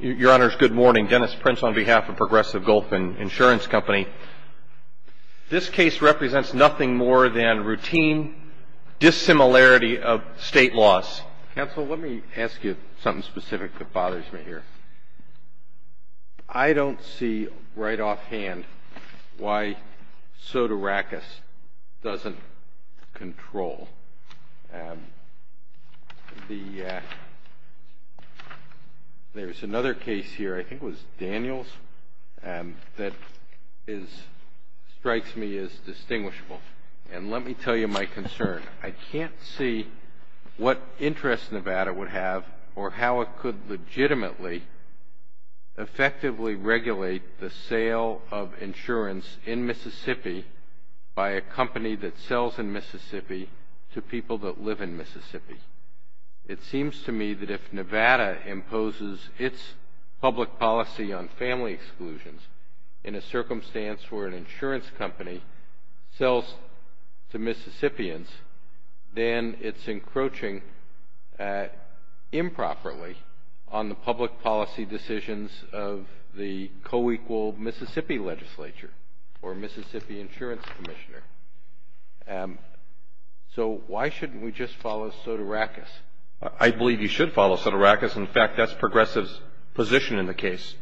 Your Honors, good morning. Dennis Prince on behalf of Progressive Gulf Insurance Company. This case represents nothing more than routine dissimilarity of state laws. Counsel, let me ask you something specific that bothers me here. I don't see right offhand why Sotirakis doesn't control the, there's another case here, I think it was Daniels, that strikes me as distinguishable. And let me tell you my concern. I can't see what interest Nevada would have or how it could legitimately, effectively regulate the sale of insurance in Mississippi by a company that sells in Mississippi to people that live in Mississippi. It seems to me that if Nevada imposes its public policy on family exclusions in a circumstance where an insurance company sells to Mississippians, then it's encroaching improperly on the public policy decisions of the co-equal Mississippi legislature or Mississippi Insurance Commissioner. So why shouldn't we just follow Sotirakis? I believe you should follow Sotirakis. In fact, that's Progressive's position in the case.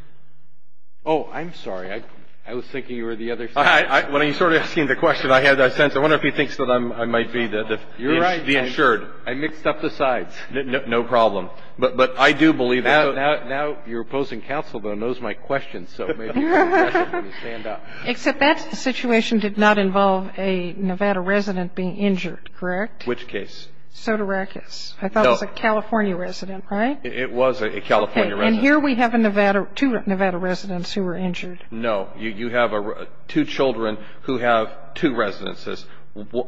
Oh, I'm sorry. I was thinking you were the other side. Well, you're sort of asking the question. I had that sense. I wonder if he thinks that I might be the insured. You're right. I mixed up the sides. No problem. But I do believe that. Now your opposing counsel, though, knows my questions. So maybe you can stand up. Except that situation did not involve a Nevada resident being injured, correct? Which case? Sotirakis. No. I thought it was a California resident, right? It was a California resident. Okay. And here we have two Nevada residents who were injured. No. You have two children who have two residences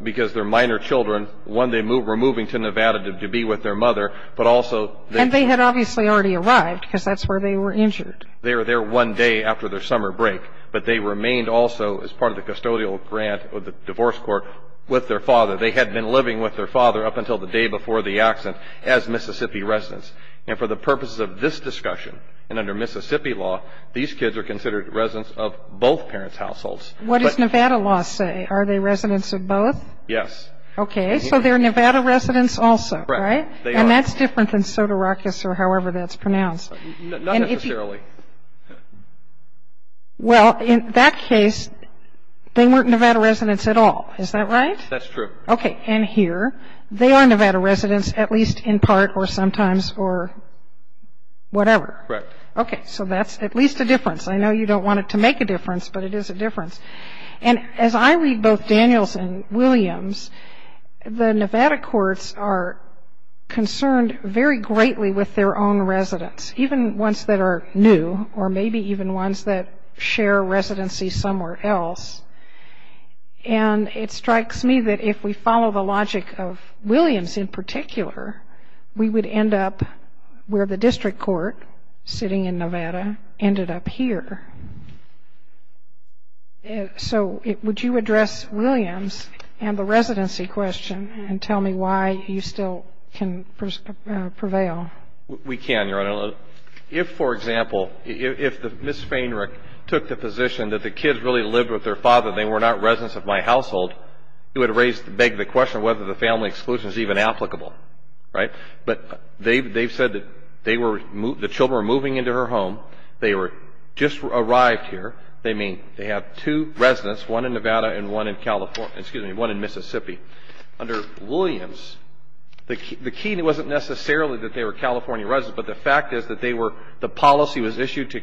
because they're minor children. One, they were moving to Nevada to be with their mother, but also they were. They obviously already arrived because that's where they were injured. They were there one day after their summer break, but they remained also as part of the custodial grant of the divorce court with their father. They had been living with their father up until the day before the accident as Mississippi residents. And for the purposes of this discussion and under Mississippi law, these kids are considered residents of both parents' households. What does Nevada law say? Are they residents of both? Yes. Okay. So they're Nevada residents also, right? They are. Okay. And they're not different than Sotirakis or however that's pronounced. Not necessarily. Well, in that case, they weren't Nevada residents at all. Is that right? That's true. Okay. And here, they are Nevada residents at least in part or sometimes or whatever. Correct. Okay. So that's at least a difference. I know you don't want it to make a difference, but it is a difference. And as I read both Daniels and Williams, the Nevada courts are concerned very greatly with their own residents, even ones that are new or maybe even ones that share residency somewhere else. And it strikes me that if we follow the logic of Williams in particular, we would end up where the district court, sitting in Nevada, ended up here. So would you address Williams and the residency question and tell me why you still can prevail? We can, Your Honor. If, for example, if Ms. Feinrich took the position that the kids really lived with their father and they were not residents of my household, it would beg the question of whether the family exclusion is even applicable. Right? But they've said that the children were moving into her home. They just arrived here. They have two residents, one in Nevada and one in Mississippi. Under Williams, the key wasn't necessarily that they were California residents, but the fact is that the policy was issued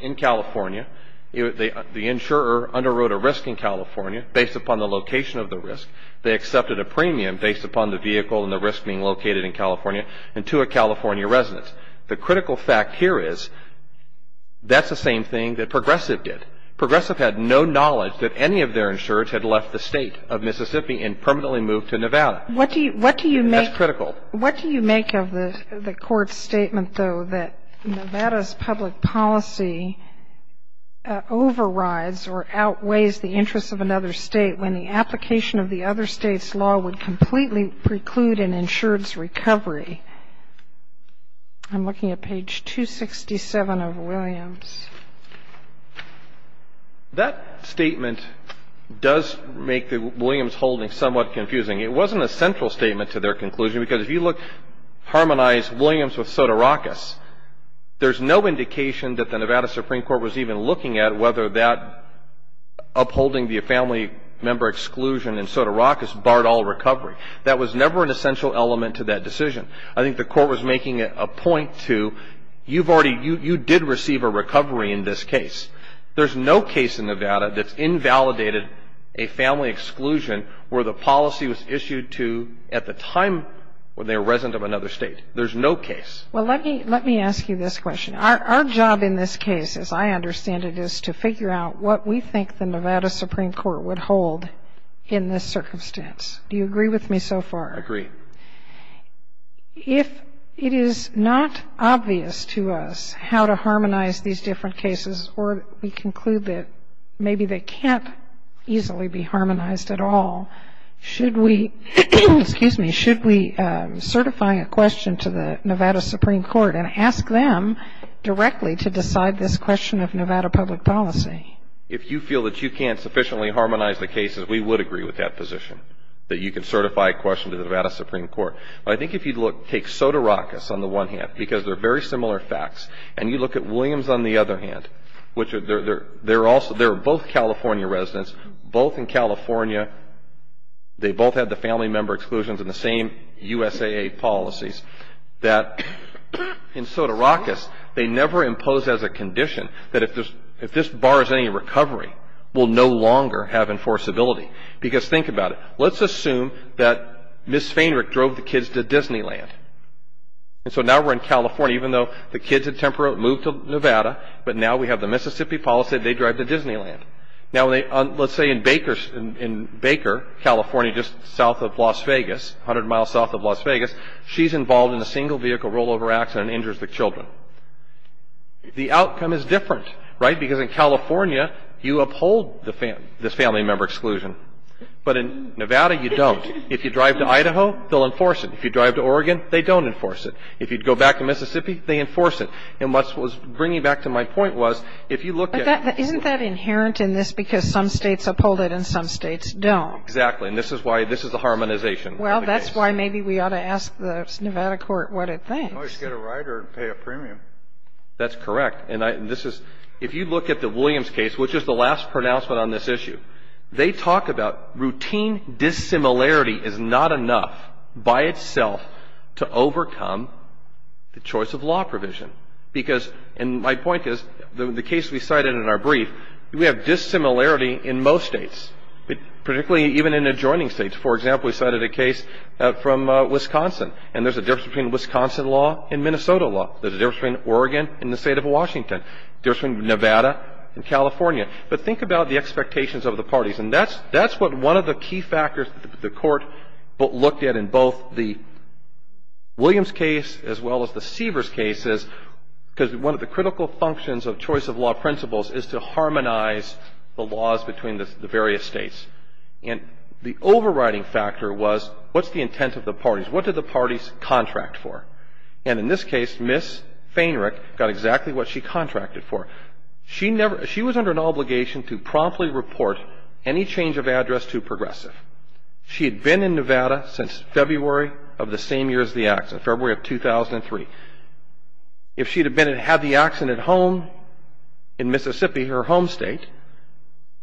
in California. The insurer underwrote a risk in California based upon the location of the risk. They accepted a premium based upon the vehicle and the risk being located in California and two are California residents. The critical fact here is that's the same thing that Progressive did. Progressive had no knowledge that any of their insurers had left the state of Mississippi and permanently moved to Nevada. That's critical. What do you make of the Court's statement, though, that Nevada's public policy overrides or outweighs the interests of another state when the application of the other state's law would completely preclude an insurer's recovery? I'm looking at page 267 of Williams. That statement does make the Williams holding somewhat confusing. It wasn't a central statement to their conclusion because if you look at Harmonize Williams with Sotorakis, there's no indication that the Nevada Supreme Court was even looking at whether that upholding the family member exclusion in Sotarakis barred all recovery. That was never an essential element to that decision. I think the Court was making a point to you did receive a recovery in this case. There's no case in Nevada that's invalidated a family exclusion where the policy was issued to at the time they were resident of another state. There's no case. Well, let me ask you this question. Our job in this case, as I understand it, is to figure out what we think the Nevada Supreme Court would hold in this circumstance. Do you agree with me so far? I agree. If it is not obvious to us how to harmonize these different cases or we conclude that maybe they can't easily be harmonized at all, should we certify a question to the Nevada Supreme Court and ask them directly to decide this question of Nevada public policy? If you feel that you can't sufficiently harmonize the cases, we would agree with that position, that you could certify a question to the Nevada Supreme Court. I think if you take Sotarakis on the one hand, because they're very similar facts, and you look at Williams on the other hand, which they're both California residents, both in California, they both had the family member exclusions in the same USAA policies, that in Sotarakis, they never impose as a condition that if this bars any recovery, we'll no longer have enforceability. Because think about it. Let's assume that Ms. Feinrich drove the kids to Disneyland. And so now we're in California, even though the kids had temporarily moved to Nevada, but now we have the Mississippi policy that they drive to Disneyland. Now, let's say in Baker, California, just south of Las Vegas, 100 miles south of Las Vegas, she's involved in a single vehicle rollover accident and injures the children. The outcome is different, right? Because in California, you uphold the family member exclusion. But in Nevada, you don't. If you drive to Idaho, they'll enforce it. If you drive to Oregon, they don't enforce it. If you go back to Mississippi, they enforce it. And what's bringing back to my point was, if you look at the rules. But isn't that inherent in this, because some states uphold it and some states don't? Exactly. And this is why this is a harmonization of the case. Well, that's why maybe we ought to ask the Nevada court what it thinks. Well, you should get a ride or pay a premium. That's correct. And this is, if you look at the Williams case, which is the last pronouncement on this issue, they talk about routine dissimilarity is not enough by itself to overcome the choice of law provision. Because, and my point is, the case we cited in our brief, we have dissimilarity in most states, particularly even in adjoining states. For example, we cited a case from Wisconsin. And there's a difference between Wisconsin law and Minnesota law. There's a difference between Oregon and the State of Washington. There's a difference between Nevada and California. But think about the expectations of the parties. And that's what one of the key factors that the Court looked at in both the Williams case as well as the Seavers case is, because one of the critical functions of choice of law principles is to harmonize the laws between the various states. And the overriding factor was what's the intent of the parties? What did the parties contract for? And in this case, Ms. Feinrich got exactly what she contracted for. She was under an obligation to promptly report any change of address to Progressive. She had been in Nevada since February of the same year as the accident, February of 2003. If she had been and had the accident at home in Mississippi, her home state,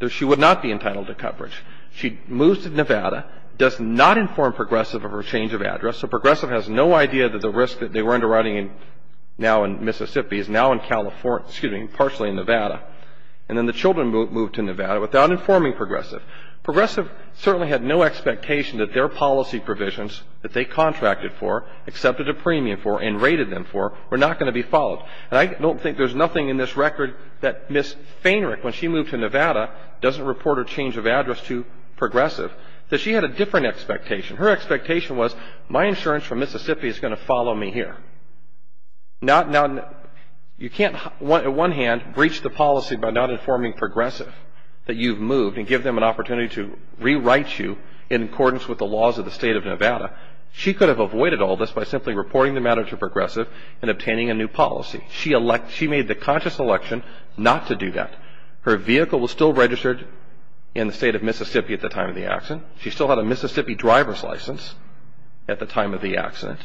she would not be entitled to coverage. She moves to Nevada, does not inform Progressive of her change of address. So Progressive has no idea that the risk that they were underwriting now in Mississippi is now in California, excuse me, partially in Nevada, and then the children moved to Nevada without informing Progressive. Progressive certainly had no expectation that their policy provisions that they contracted for, accepted a premium for, and rated them for were not going to be followed. And I don't think there's nothing in this record that Ms. Feinrich, when she moved to Nevada, doesn't report her change of address to Progressive, that she had a different expectation. Her expectation was my insurance from Mississippi is going to follow me here. You can't, on one hand, breach the policy by not informing Progressive that you've moved and give them an opportunity to rewrite you in accordance with the laws of the state of Nevada. She could have avoided all this by simply reporting the matter to Progressive and obtaining a new policy. She made the conscious election not to do that. Her vehicle was still registered in the state of Mississippi at the time of the accident. She still had a Mississippi driver's license at the time of the accident.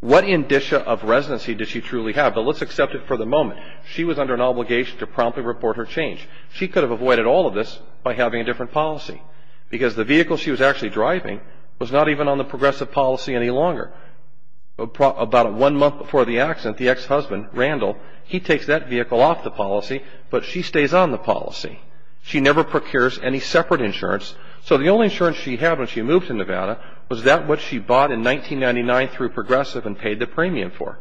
What indicia of residency did she truly have? But let's accept it for the moment. She was under an obligation to promptly report her change. She could have avoided all of this by having a different policy. Because the vehicle she was actually driving was not even on the Progressive policy any longer. About one month before the accident, the ex-husband, Randall, he takes that vehicle off the policy, but she stays on the policy. She never procures any separate insurance. So the only insurance she had when she moved to Nevada was that which she bought in 1999 through Progressive and paid the premium for.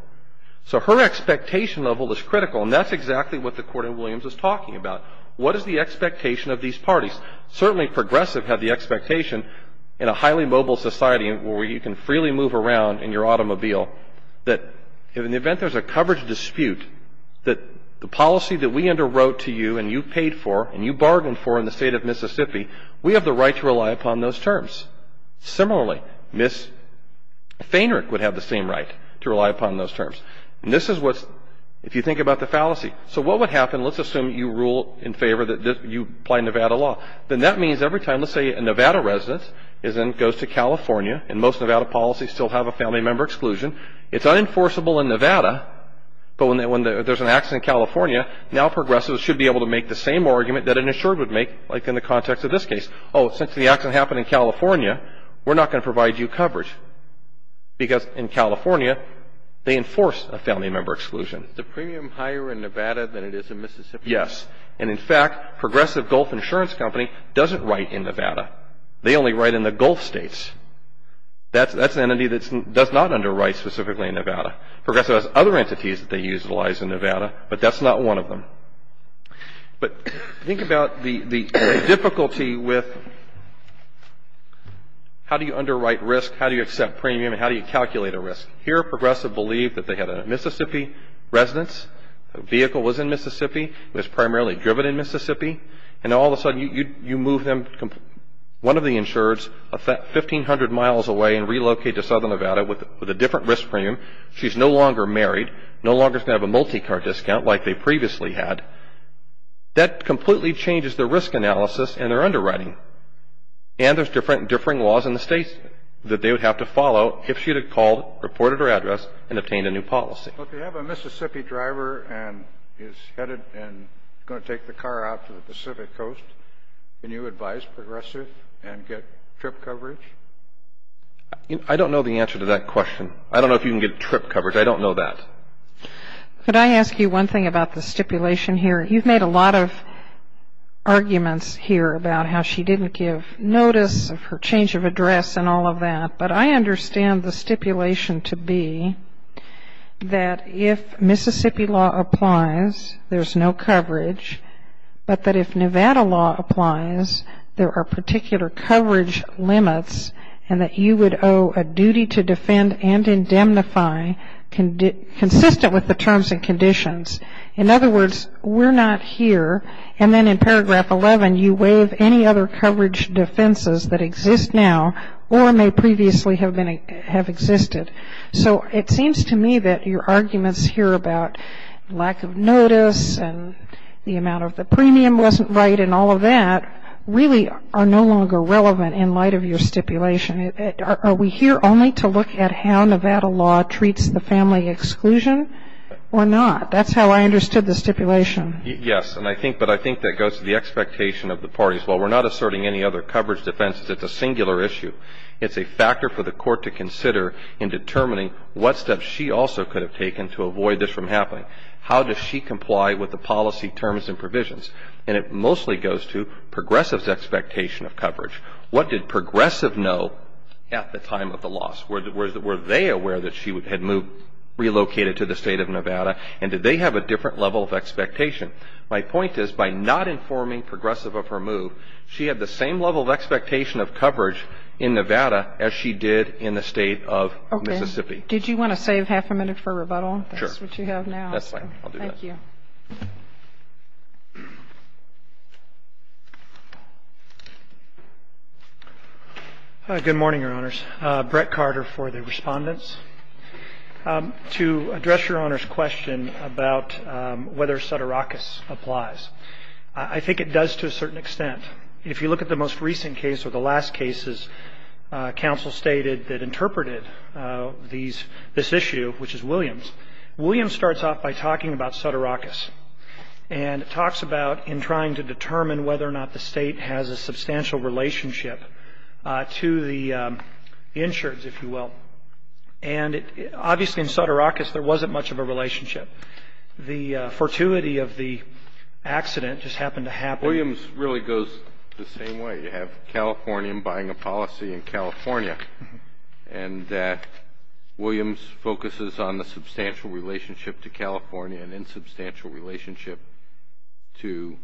So her expectation level is critical, and that's exactly what the Court of Williams is talking about. What is the expectation of these parties? Certainly Progressive had the expectation, in a highly mobile society where you can freely move around in your automobile, that in the event there's a coverage dispute, that the policy that we underwrote to you and you paid for and you bargained for in the state of Mississippi, we have the right to rely upon those terms. Similarly, Ms. Feinrich would have the same right to rely upon those terms. And this is what's, if you think about the fallacy. So what would happen, let's assume you rule in favor that you apply Nevada law. Then that means every time, let's say a Nevada resident goes to California, and most Nevada policies still have a family member exclusion, it's unenforceable in Nevada, but when there's an accident in California, now Progressives should be able to make the same argument that an insured would make, like in the context of this case. Oh, since the accident happened in California, we're not going to provide you coverage. Because in California, they enforce a family member exclusion. Is the premium higher in Nevada than it is in Mississippi? Yes. And in fact, Progressive Gulf Insurance Company doesn't write in Nevada. They only write in the Gulf states. That's an entity that does not underwrite specifically in Nevada. Progressive has other entities that they utilize in Nevada, but that's not one of them. But think about the difficulty with how do you underwrite risk, how do you accept premium, and how do you calculate a risk? Here, Progressive believed that they had a Mississippi residence, the vehicle was in Mississippi, it was primarily driven in Mississippi, and all of a sudden you move them, one of the insureds, 1,500 miles away and relocate to southern Nevada with a different risk premium. She's no longer married, no longer is going to have a multi-car discount like they previously had. That completely changes the risk analysis and their underwriting. And there's differing laws in the states that they would have to follow if she had called, reported her address, and obtained a new policy. Well, if you have a Mississippi driver and he's headed and he's going to take the car out to the Pacific Coast, can you advise Progressive and get trip coverage? I don't know the answer to that question. I don't know if you can get trip coverage. I don't know that. Could I ask you one thing about the stipulation here? You've made a lot of arguments here about how she didn't give notice of her change of address and all of that, but I understand the stipulation to be that if Mississippi law applies, there's no coverage, but that if Nevada law applies, there are particular coverage limits and that you would owe a duty to defend and indemnify consistent with the terms and conditions. In other words, we're not here, and then in paragraph 11, you waive any other coverage defenses that exist now or may previously have existed. So it seems to me that your arguments here about lack of notice and the amount of the premium wasn't right and all of that really are no longer relevant in light of your stipulation. Are we here only to look at how Nevada law treats the family exclusion or not? That's how I understood the stipulation. Yes, but I think that goes to the expectation of the parties. While we're not asserting any other coverage defenses, it's a singular issue. It's a factor for the court to consider in determining what steps she also could have taken to avoid this from happening. How does she comply with the policy terms and provisions? And it mostly goes to progressives' expectation of coverage. What did progressive know at the time of the loss? Were they aware that she had relocated to the state of Nevada and did they have a different level of expectation? My point is by not informing progressive of her move, she had the same level of expectation of coverage in Nevada as she did in the state of Mississippi. Okay. Did you want to save half a minute for rebuttal? Sure. That's what you have now. That's fine. I'll do that. Thank you. Good morning, Your Honors. Brett Carter for the respondents. To address Your Honor's question about whether sutteracas applies, I think it does to a certain extent. If you look at the most recent case or the last cases, counsel stated that interpreted this issue, which is Williams. Williams starts off by talking about sutteracas and talks about in trying to determine whether or not the state has a substantial relationship to the insureds, if you will. And obviously in sutteracas there wasn't much of a relationship. The fortuity of the accident just happened to happen. Williams really goes the same way. You have California buying a policy in California and that Williams focuses on the substantial relationship to California and insubstantial relationship to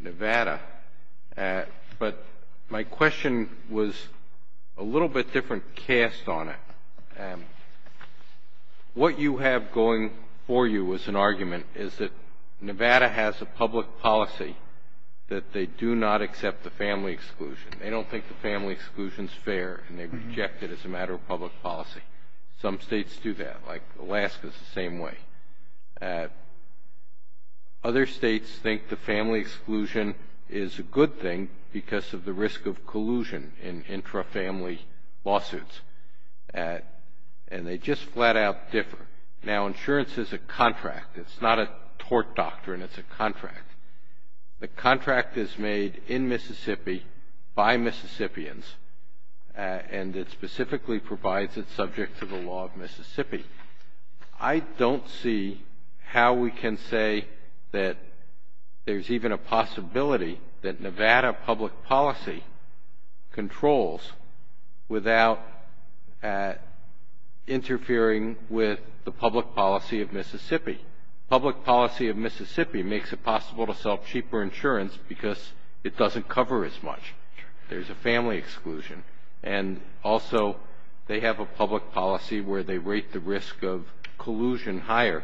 Nevada. But my question was a little bit different cast on it. What you have going for you as an argument is that Nevada has a public policy that they do not accept the family exclusion. They don't think the family exclusion is fair and they reject it as a matter of public policy. Some states do that, like Alaska is the same way. Other states think the family exclusion is a good thing because of the risk of collusion in intra-family lawsuits. And they just flat out differ. Now insurance is a contract. It's not a tort doctrine. It's a contract. The contract is made in Mississippi by Mississippians and it specifically provides it subject to the law of Mississippi. I don't see how we can say that there's even a possibility that Nevada public policy controls without interfering with the public policy of Mississippi. The public policy of Mississippi makes it possible to sell cheaper insurance because it doesn't cover as much. There's a family exclusion. And also they have a public policy where they rate the risk of collusion higher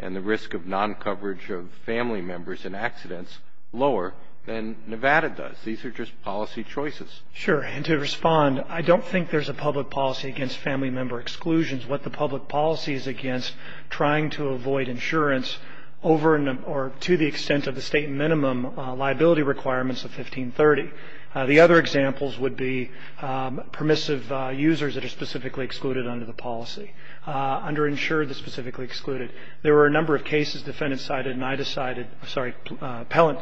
and the risk of non-coverage of family members in accidents lower than Nevada does. These are just policy choices. Sure. And to respond, I don't think there's a public policy against family member exclusions. What the public policy is against, trying to avoid insurance over or to the extent of the state minimum liability requirements of 1530. The other examples would be permissive users that are specifically excluded under the policy, underinsured that are specifically excluded. There were a number of cases defendants cited and I decided, sorry, appellant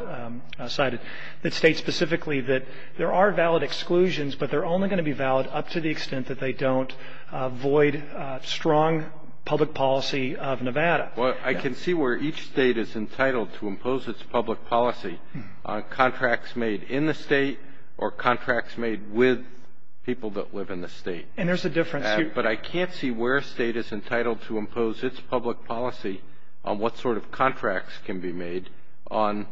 cited that state specifically that there are valid exclusions, but they're only going to be valid up to the extent that they don't avoid strong public policy of Nevada. Well, I can see where each state is entitled to impose its public policy on contracts made in the state or contracts made with people that live in the state. And there's a difference. But I can't see where a state is entitled to impose its public policy on what sort of contracts can be made on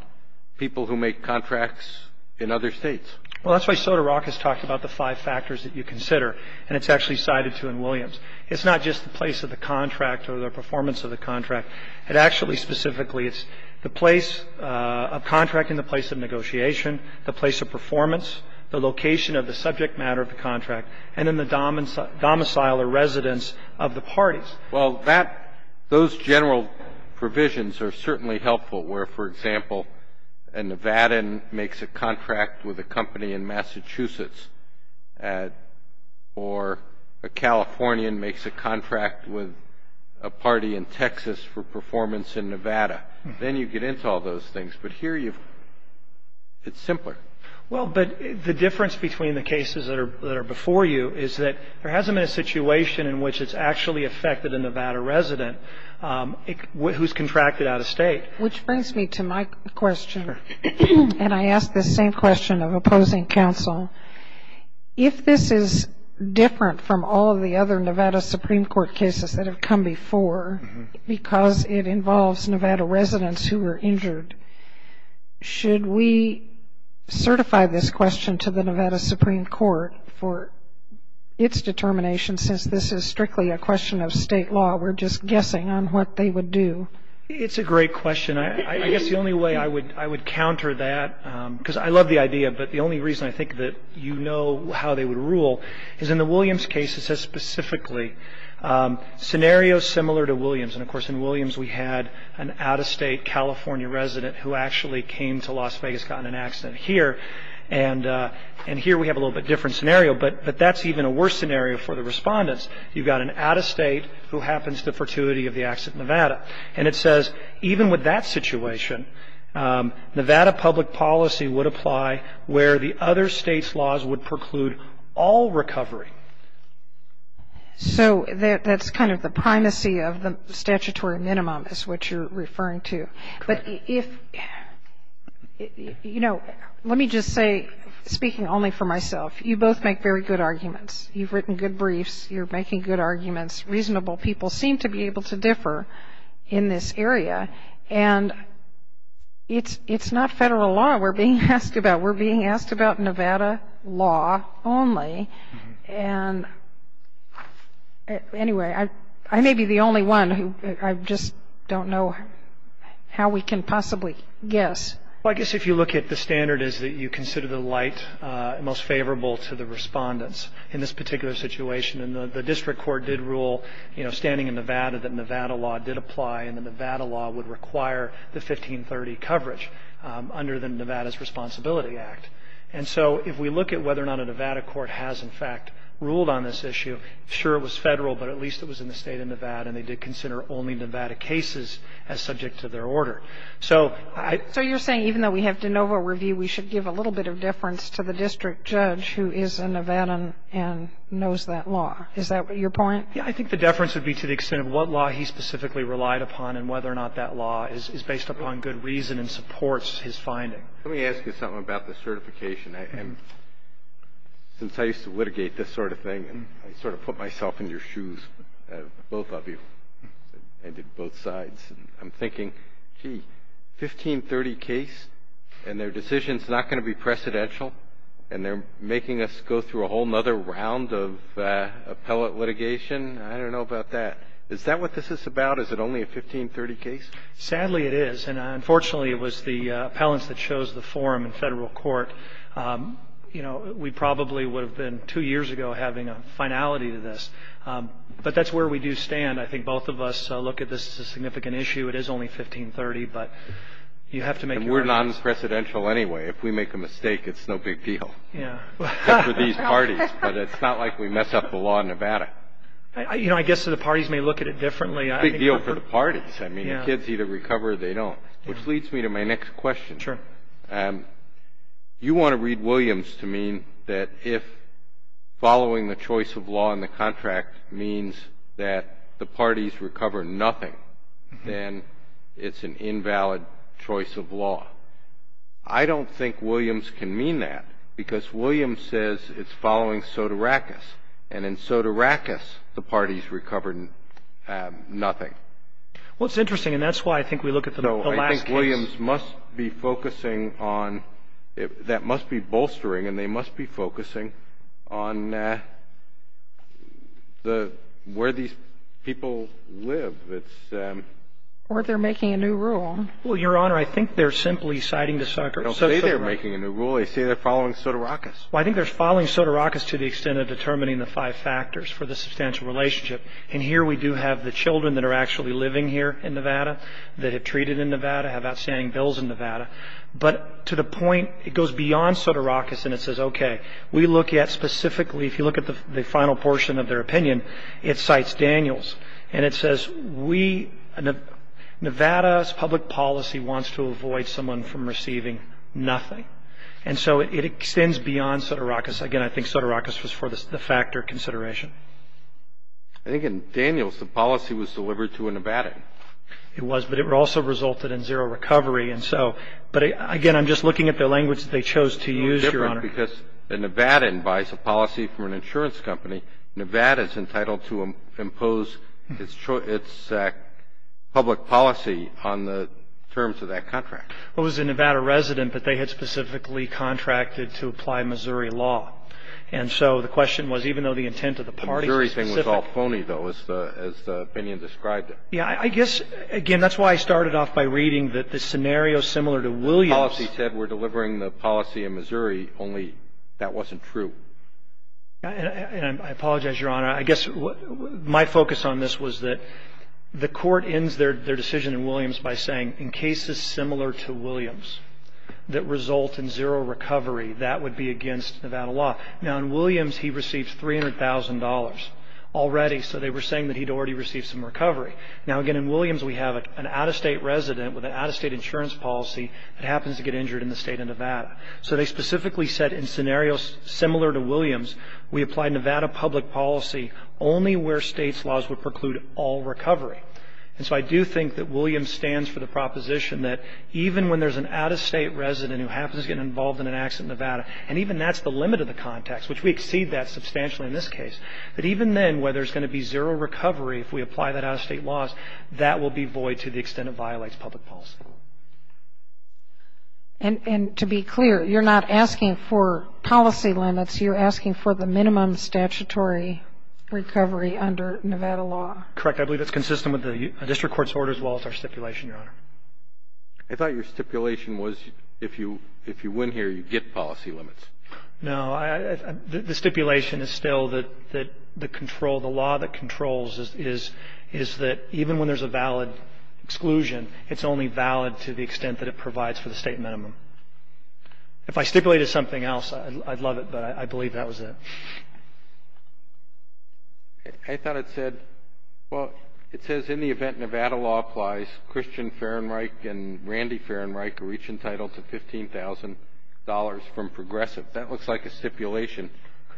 people who make contracts in other states. Well, that's why SOTA Rock has talked about the five factors that you consider, and it's actually cited too in Williams. It's not just the place of the contract or the performance of the contract. It actually specifically is the place of contracting, the place of negotiation, the place of performance, the location of the subject matter of the contract, and then the domicile or residence of the parties. Well, that those general provisions are certainly helpful where, for example, a Nevadan makes a contract with a company in Massachusetts or a Californian makes a contract with a party in Texas for performance in Nevada. Then you get into all those things. But here it's simpler. Well, but the difference between the cases that are before you is that there hasn't been a situation in which it's actually affected a Nevada resident who's contracted out of state. Which brings me to my question, and I ask the same question of opposing counsel. If this is different from all the other Nevada Supreme Court cases that have come before because it involves Nevada residents who were injured, should we certify this question to the Nevada Supreme Court for its determination since this is strictly a question of state law? We're just guessing on what they would do. It's a great question. I guess the only way I would counter that, because I love the idea, but the only reason I think that you know how they would rule is in the Williams case, it says specifically scenarios similar to Williams. And, of course, in Williams we had an out-of-state California resident who actually came to Las Vegas, got in an accident here. And here we have a little bit different scenario, but that's even a worse scenario for the respondents. You've got an out-of-state who happens to fortuity of the accident in Nevada. And it says even with that situation, Nevada public policy would apply where the other state's laws would preclude all recovery. So that's kind of the primacy of the statutory minimum is what you're referring to. But if, you know, let me just say, speaking only for myself, you both make very good arguments. You've written good briefs. You're making good arguments. Reasonable people seem to be able to differ in this area. And it's not federal law we're being asked about. We're being asked about Nevada law only. And anyway, I may be the only one who I just don't know how we can possibly guess. Well, I guess if you look at the standard, is that you consider the light most favorable to the respondents in this particular situation. And the district court did rule, you know, standing in Nevada that Nevada law did apply and the Nevada law would require the 1530 coverage under the Nevada's Responsibility Act. And so if we look at whether or not a Nevada court has, in fact, ruled on this issue, sure it was federal, but at least it was in the state of Nevada, and they did consider only Nevada cases as subject to their order. So I — So you're saying even though we have de novo review, we should give a little bit of deference to the district judge who is a Nevadan and knows that law. Is that your point? Yeah. I think the deference would be to the extent of what law he specifically relied upon and whether or not that law is based upon good reason and supports his finding. Let me ask you something about the certification. Since I used to litigate this sort of thing, I sort of put myself in your shoes, both of you. I did both sides. I'm thinking, gee, 1530 case and their decision is not going to be precedential and they're making us go through a whole other round of appellate litigation. I don't know about that. Is that what this is about? Is it only a 1530 case? Sadly, it is, and unfortunately it was the appellants that chose the forum in federal court. You know, we probably would have been two years ago having a finality to this. But that's where we do stand. I think both of us look at this as a significant issue. It is only 1530, but you have to make your argument. And we're non-precedential anyway. If we make a mistake, it's no big deal, except for these parties. But it's not like we mess up the law in Nevada. You know, I guess the parties may look at it differently. It's a big deal for the parties. I mean, the kids either recover or they don't, which leads me to my next question. Sure. You want to read Williams to mean that if following the choice of law in the contract means that the parties recover nothing, then it's an invalid choice of law. I don't think Williams can mean that, because Williams says it's following Sotirakis, and in Sotirakis the parties recovered nothing. Well, it's interesting, and that's why I think we look at the last case. No, I think Williams must be focusing on that must be bolstering, and they must be focusing on where these people live. Or they're making a new rule. Well, Your Honor, I think they're simply citing the sucker. They don't say they're making a new rule. They say they're following Sotirakis. Well, I think they're following Sotirakis to the extent of determining the five factors for the substantial relationship. And here we do have the children that are actually living here in Nevada, that have treated in Nevada, have outstanding bills in Nevada. But to the point, it goes beyond Sotirakis, and it says, okay, we look at specifically, if you look at the final portion of their opinion, it cites Daniels, and it says Nevada's public policy wants to avoid someone from receiving nothing. And so it extends beyond Sotirakis. Again, I think Sotirakis was for the factor consideration. I think in Daniels the policy was delivered to a Nevadan. It was, but it also resulted in zero recovery. And so, but, again, I'm just looking at the language that they chose to use, Your Honor. Well, it's different because a Nevadan buys a policy from an insurance company. Nevada is entitled to impose its public policy on the terms of that contract. Well, it was a Nevada resident that they had specifically contracted to apply Missouri law. And so the question was, even though the intent of the parties was specific. The Missouri thing was all phony, though, as the opinion described it. Yeah, I guess, again, that's why I started off by reading that the scenario similar to Williams. The policy said we're delivering the policy in Missouri, only that wasn't true. And I apologize, Your Honor. I guess my focus on this was that the Court ends their decision in Williams by saying in cases similar to Williams that result in zero recovery, that would be against Nevada law. Now, in Williams he received $300,000 already, so they were saying that he'd already received some recovery. Now, again, in Williams we have an out-of-state resident with an out-of-state insurance policy that happens to get injured in the state of Nevada. So they specifically said in scenarios similar to Williams, we apply Nevada public policy only where states' laws would preclude all recovery. And so I do think that Williams stands for the proposition that even when there's an out-of-state resident who happens to get involved in an accident in Nevada, and even that's the limit of the context, which we exceed that substantially in this case, that even then where there's going to be zero recovery, if we apply that out-of-state laws, that will be void to the extent it violates public policy. And to be clear, you're not asking for policy limits. You're asking for the minimum statutory recovery under Nevada law. Correct. I believe that's consistent with the district court's order as well as our stipulation, Your Honor. I thought your stipulation was if you win here, you get policy limits. No. The stipulation is still that the control, the law that controls is that even when there's a valid exclusion, it's only valid to the extent that it provides for the state minimum. If I stipulated something else, I'd love it, but I believe that was it. I thought it said, well, it says in the event Nevada law applies, Christian Fahrenreich and Randy Fahrenreich are each entitled to $15,000 from Progressive. That looks like a stipulation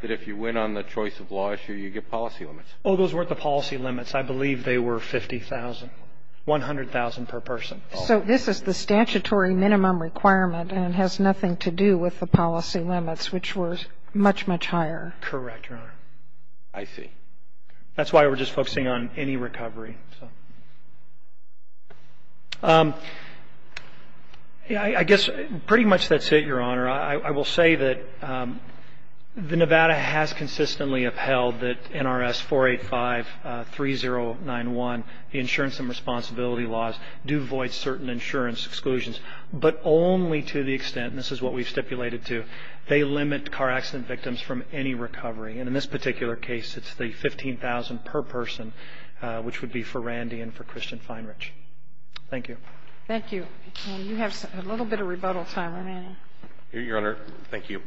that if you win on the choice of law issue, you get policy limits. Oh, those weren't the policy limits. I believe they were $50,000, $100,000 per person. So this is the statutory minimum requirement and has nothing to do with the policy limits, which were much, much higher. Correct, Your Honor. I see. That's why we're just focusing on any recovery. I guess pretty much that's it, Your Honor. I will say that the Nevada has consistently upheld that NRS 485-3091, the insurance and responsibility laws, do void certain insurance exclusions, but only to the extent, and this is what we've stipulated too, they limit car accident victims from any recovery. And in this particular case, it's the $15,000 per person, which would be for Randy and for Christian Fahrenreich. Thank you. Thank you. You have a little bit of rebuttal time remaining. Your Honor, thank you.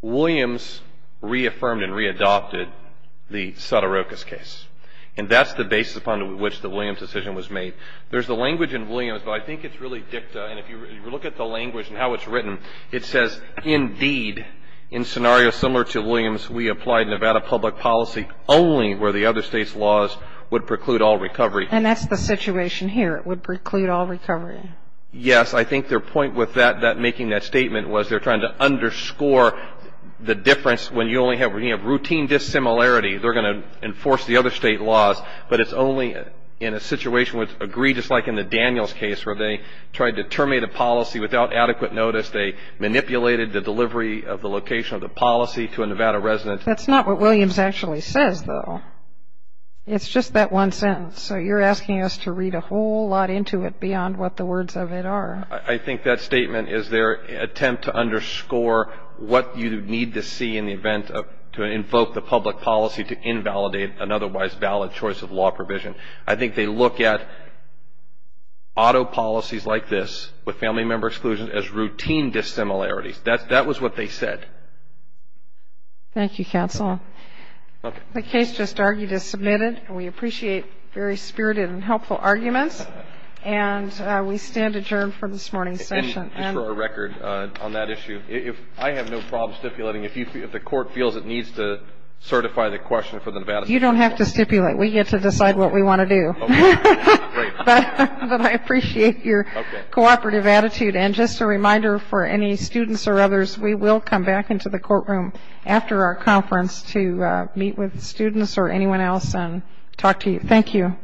Williams reaffirmed and readopted the Sotorokas case. And that's the basis upon which the Williams decision was made. There's the language in Williams, but I think it's really dicta. And if you look at the language and how it's written, it says, indeed, in scenarios similar to Williams, we applied Nevada public policy only where the other state's laws would preclude all recovery. And that's the situation here. It would preclude all recovery. Yes. I think their point with making that statement was they're trying to underscore the difference when you only have routine dissimilarity, they're going to enforce the other state laws, but it's only in a situation where it's egregious, like in the Daniels case, where they tried to terminate a policy without adequate notice. They manipulated the delivery of the location of the policy to a Nevada resident. That's not what Williams actually says, though. It's just that one sentence. So you're asking us to read a whole lot into it beyond what the words of it are. I think that statement is their attempt to underscore what you need to see in the event of policy to invalidate an otherwise valid choice of law provision. I think they look at auto policies like this with family member exclusion as routine dissimilarities. That was what they said. Thank you, counsel. The case just argued is submitted, and we appreciate very spirited and helpful arguments, and we stand adjourned for this morning's session. And just for our record on that issue, I have no problem stipulating, if the court feels it needs to certify the question for the Nevada State Court. You don't have to stipulate. We get to decide what we want to do. But I appreciate your cooperative attitude. And just a reminder for any students or others, we will come back into the courtroom after our conference to meet with students or anyone else and talk to you. Thank you.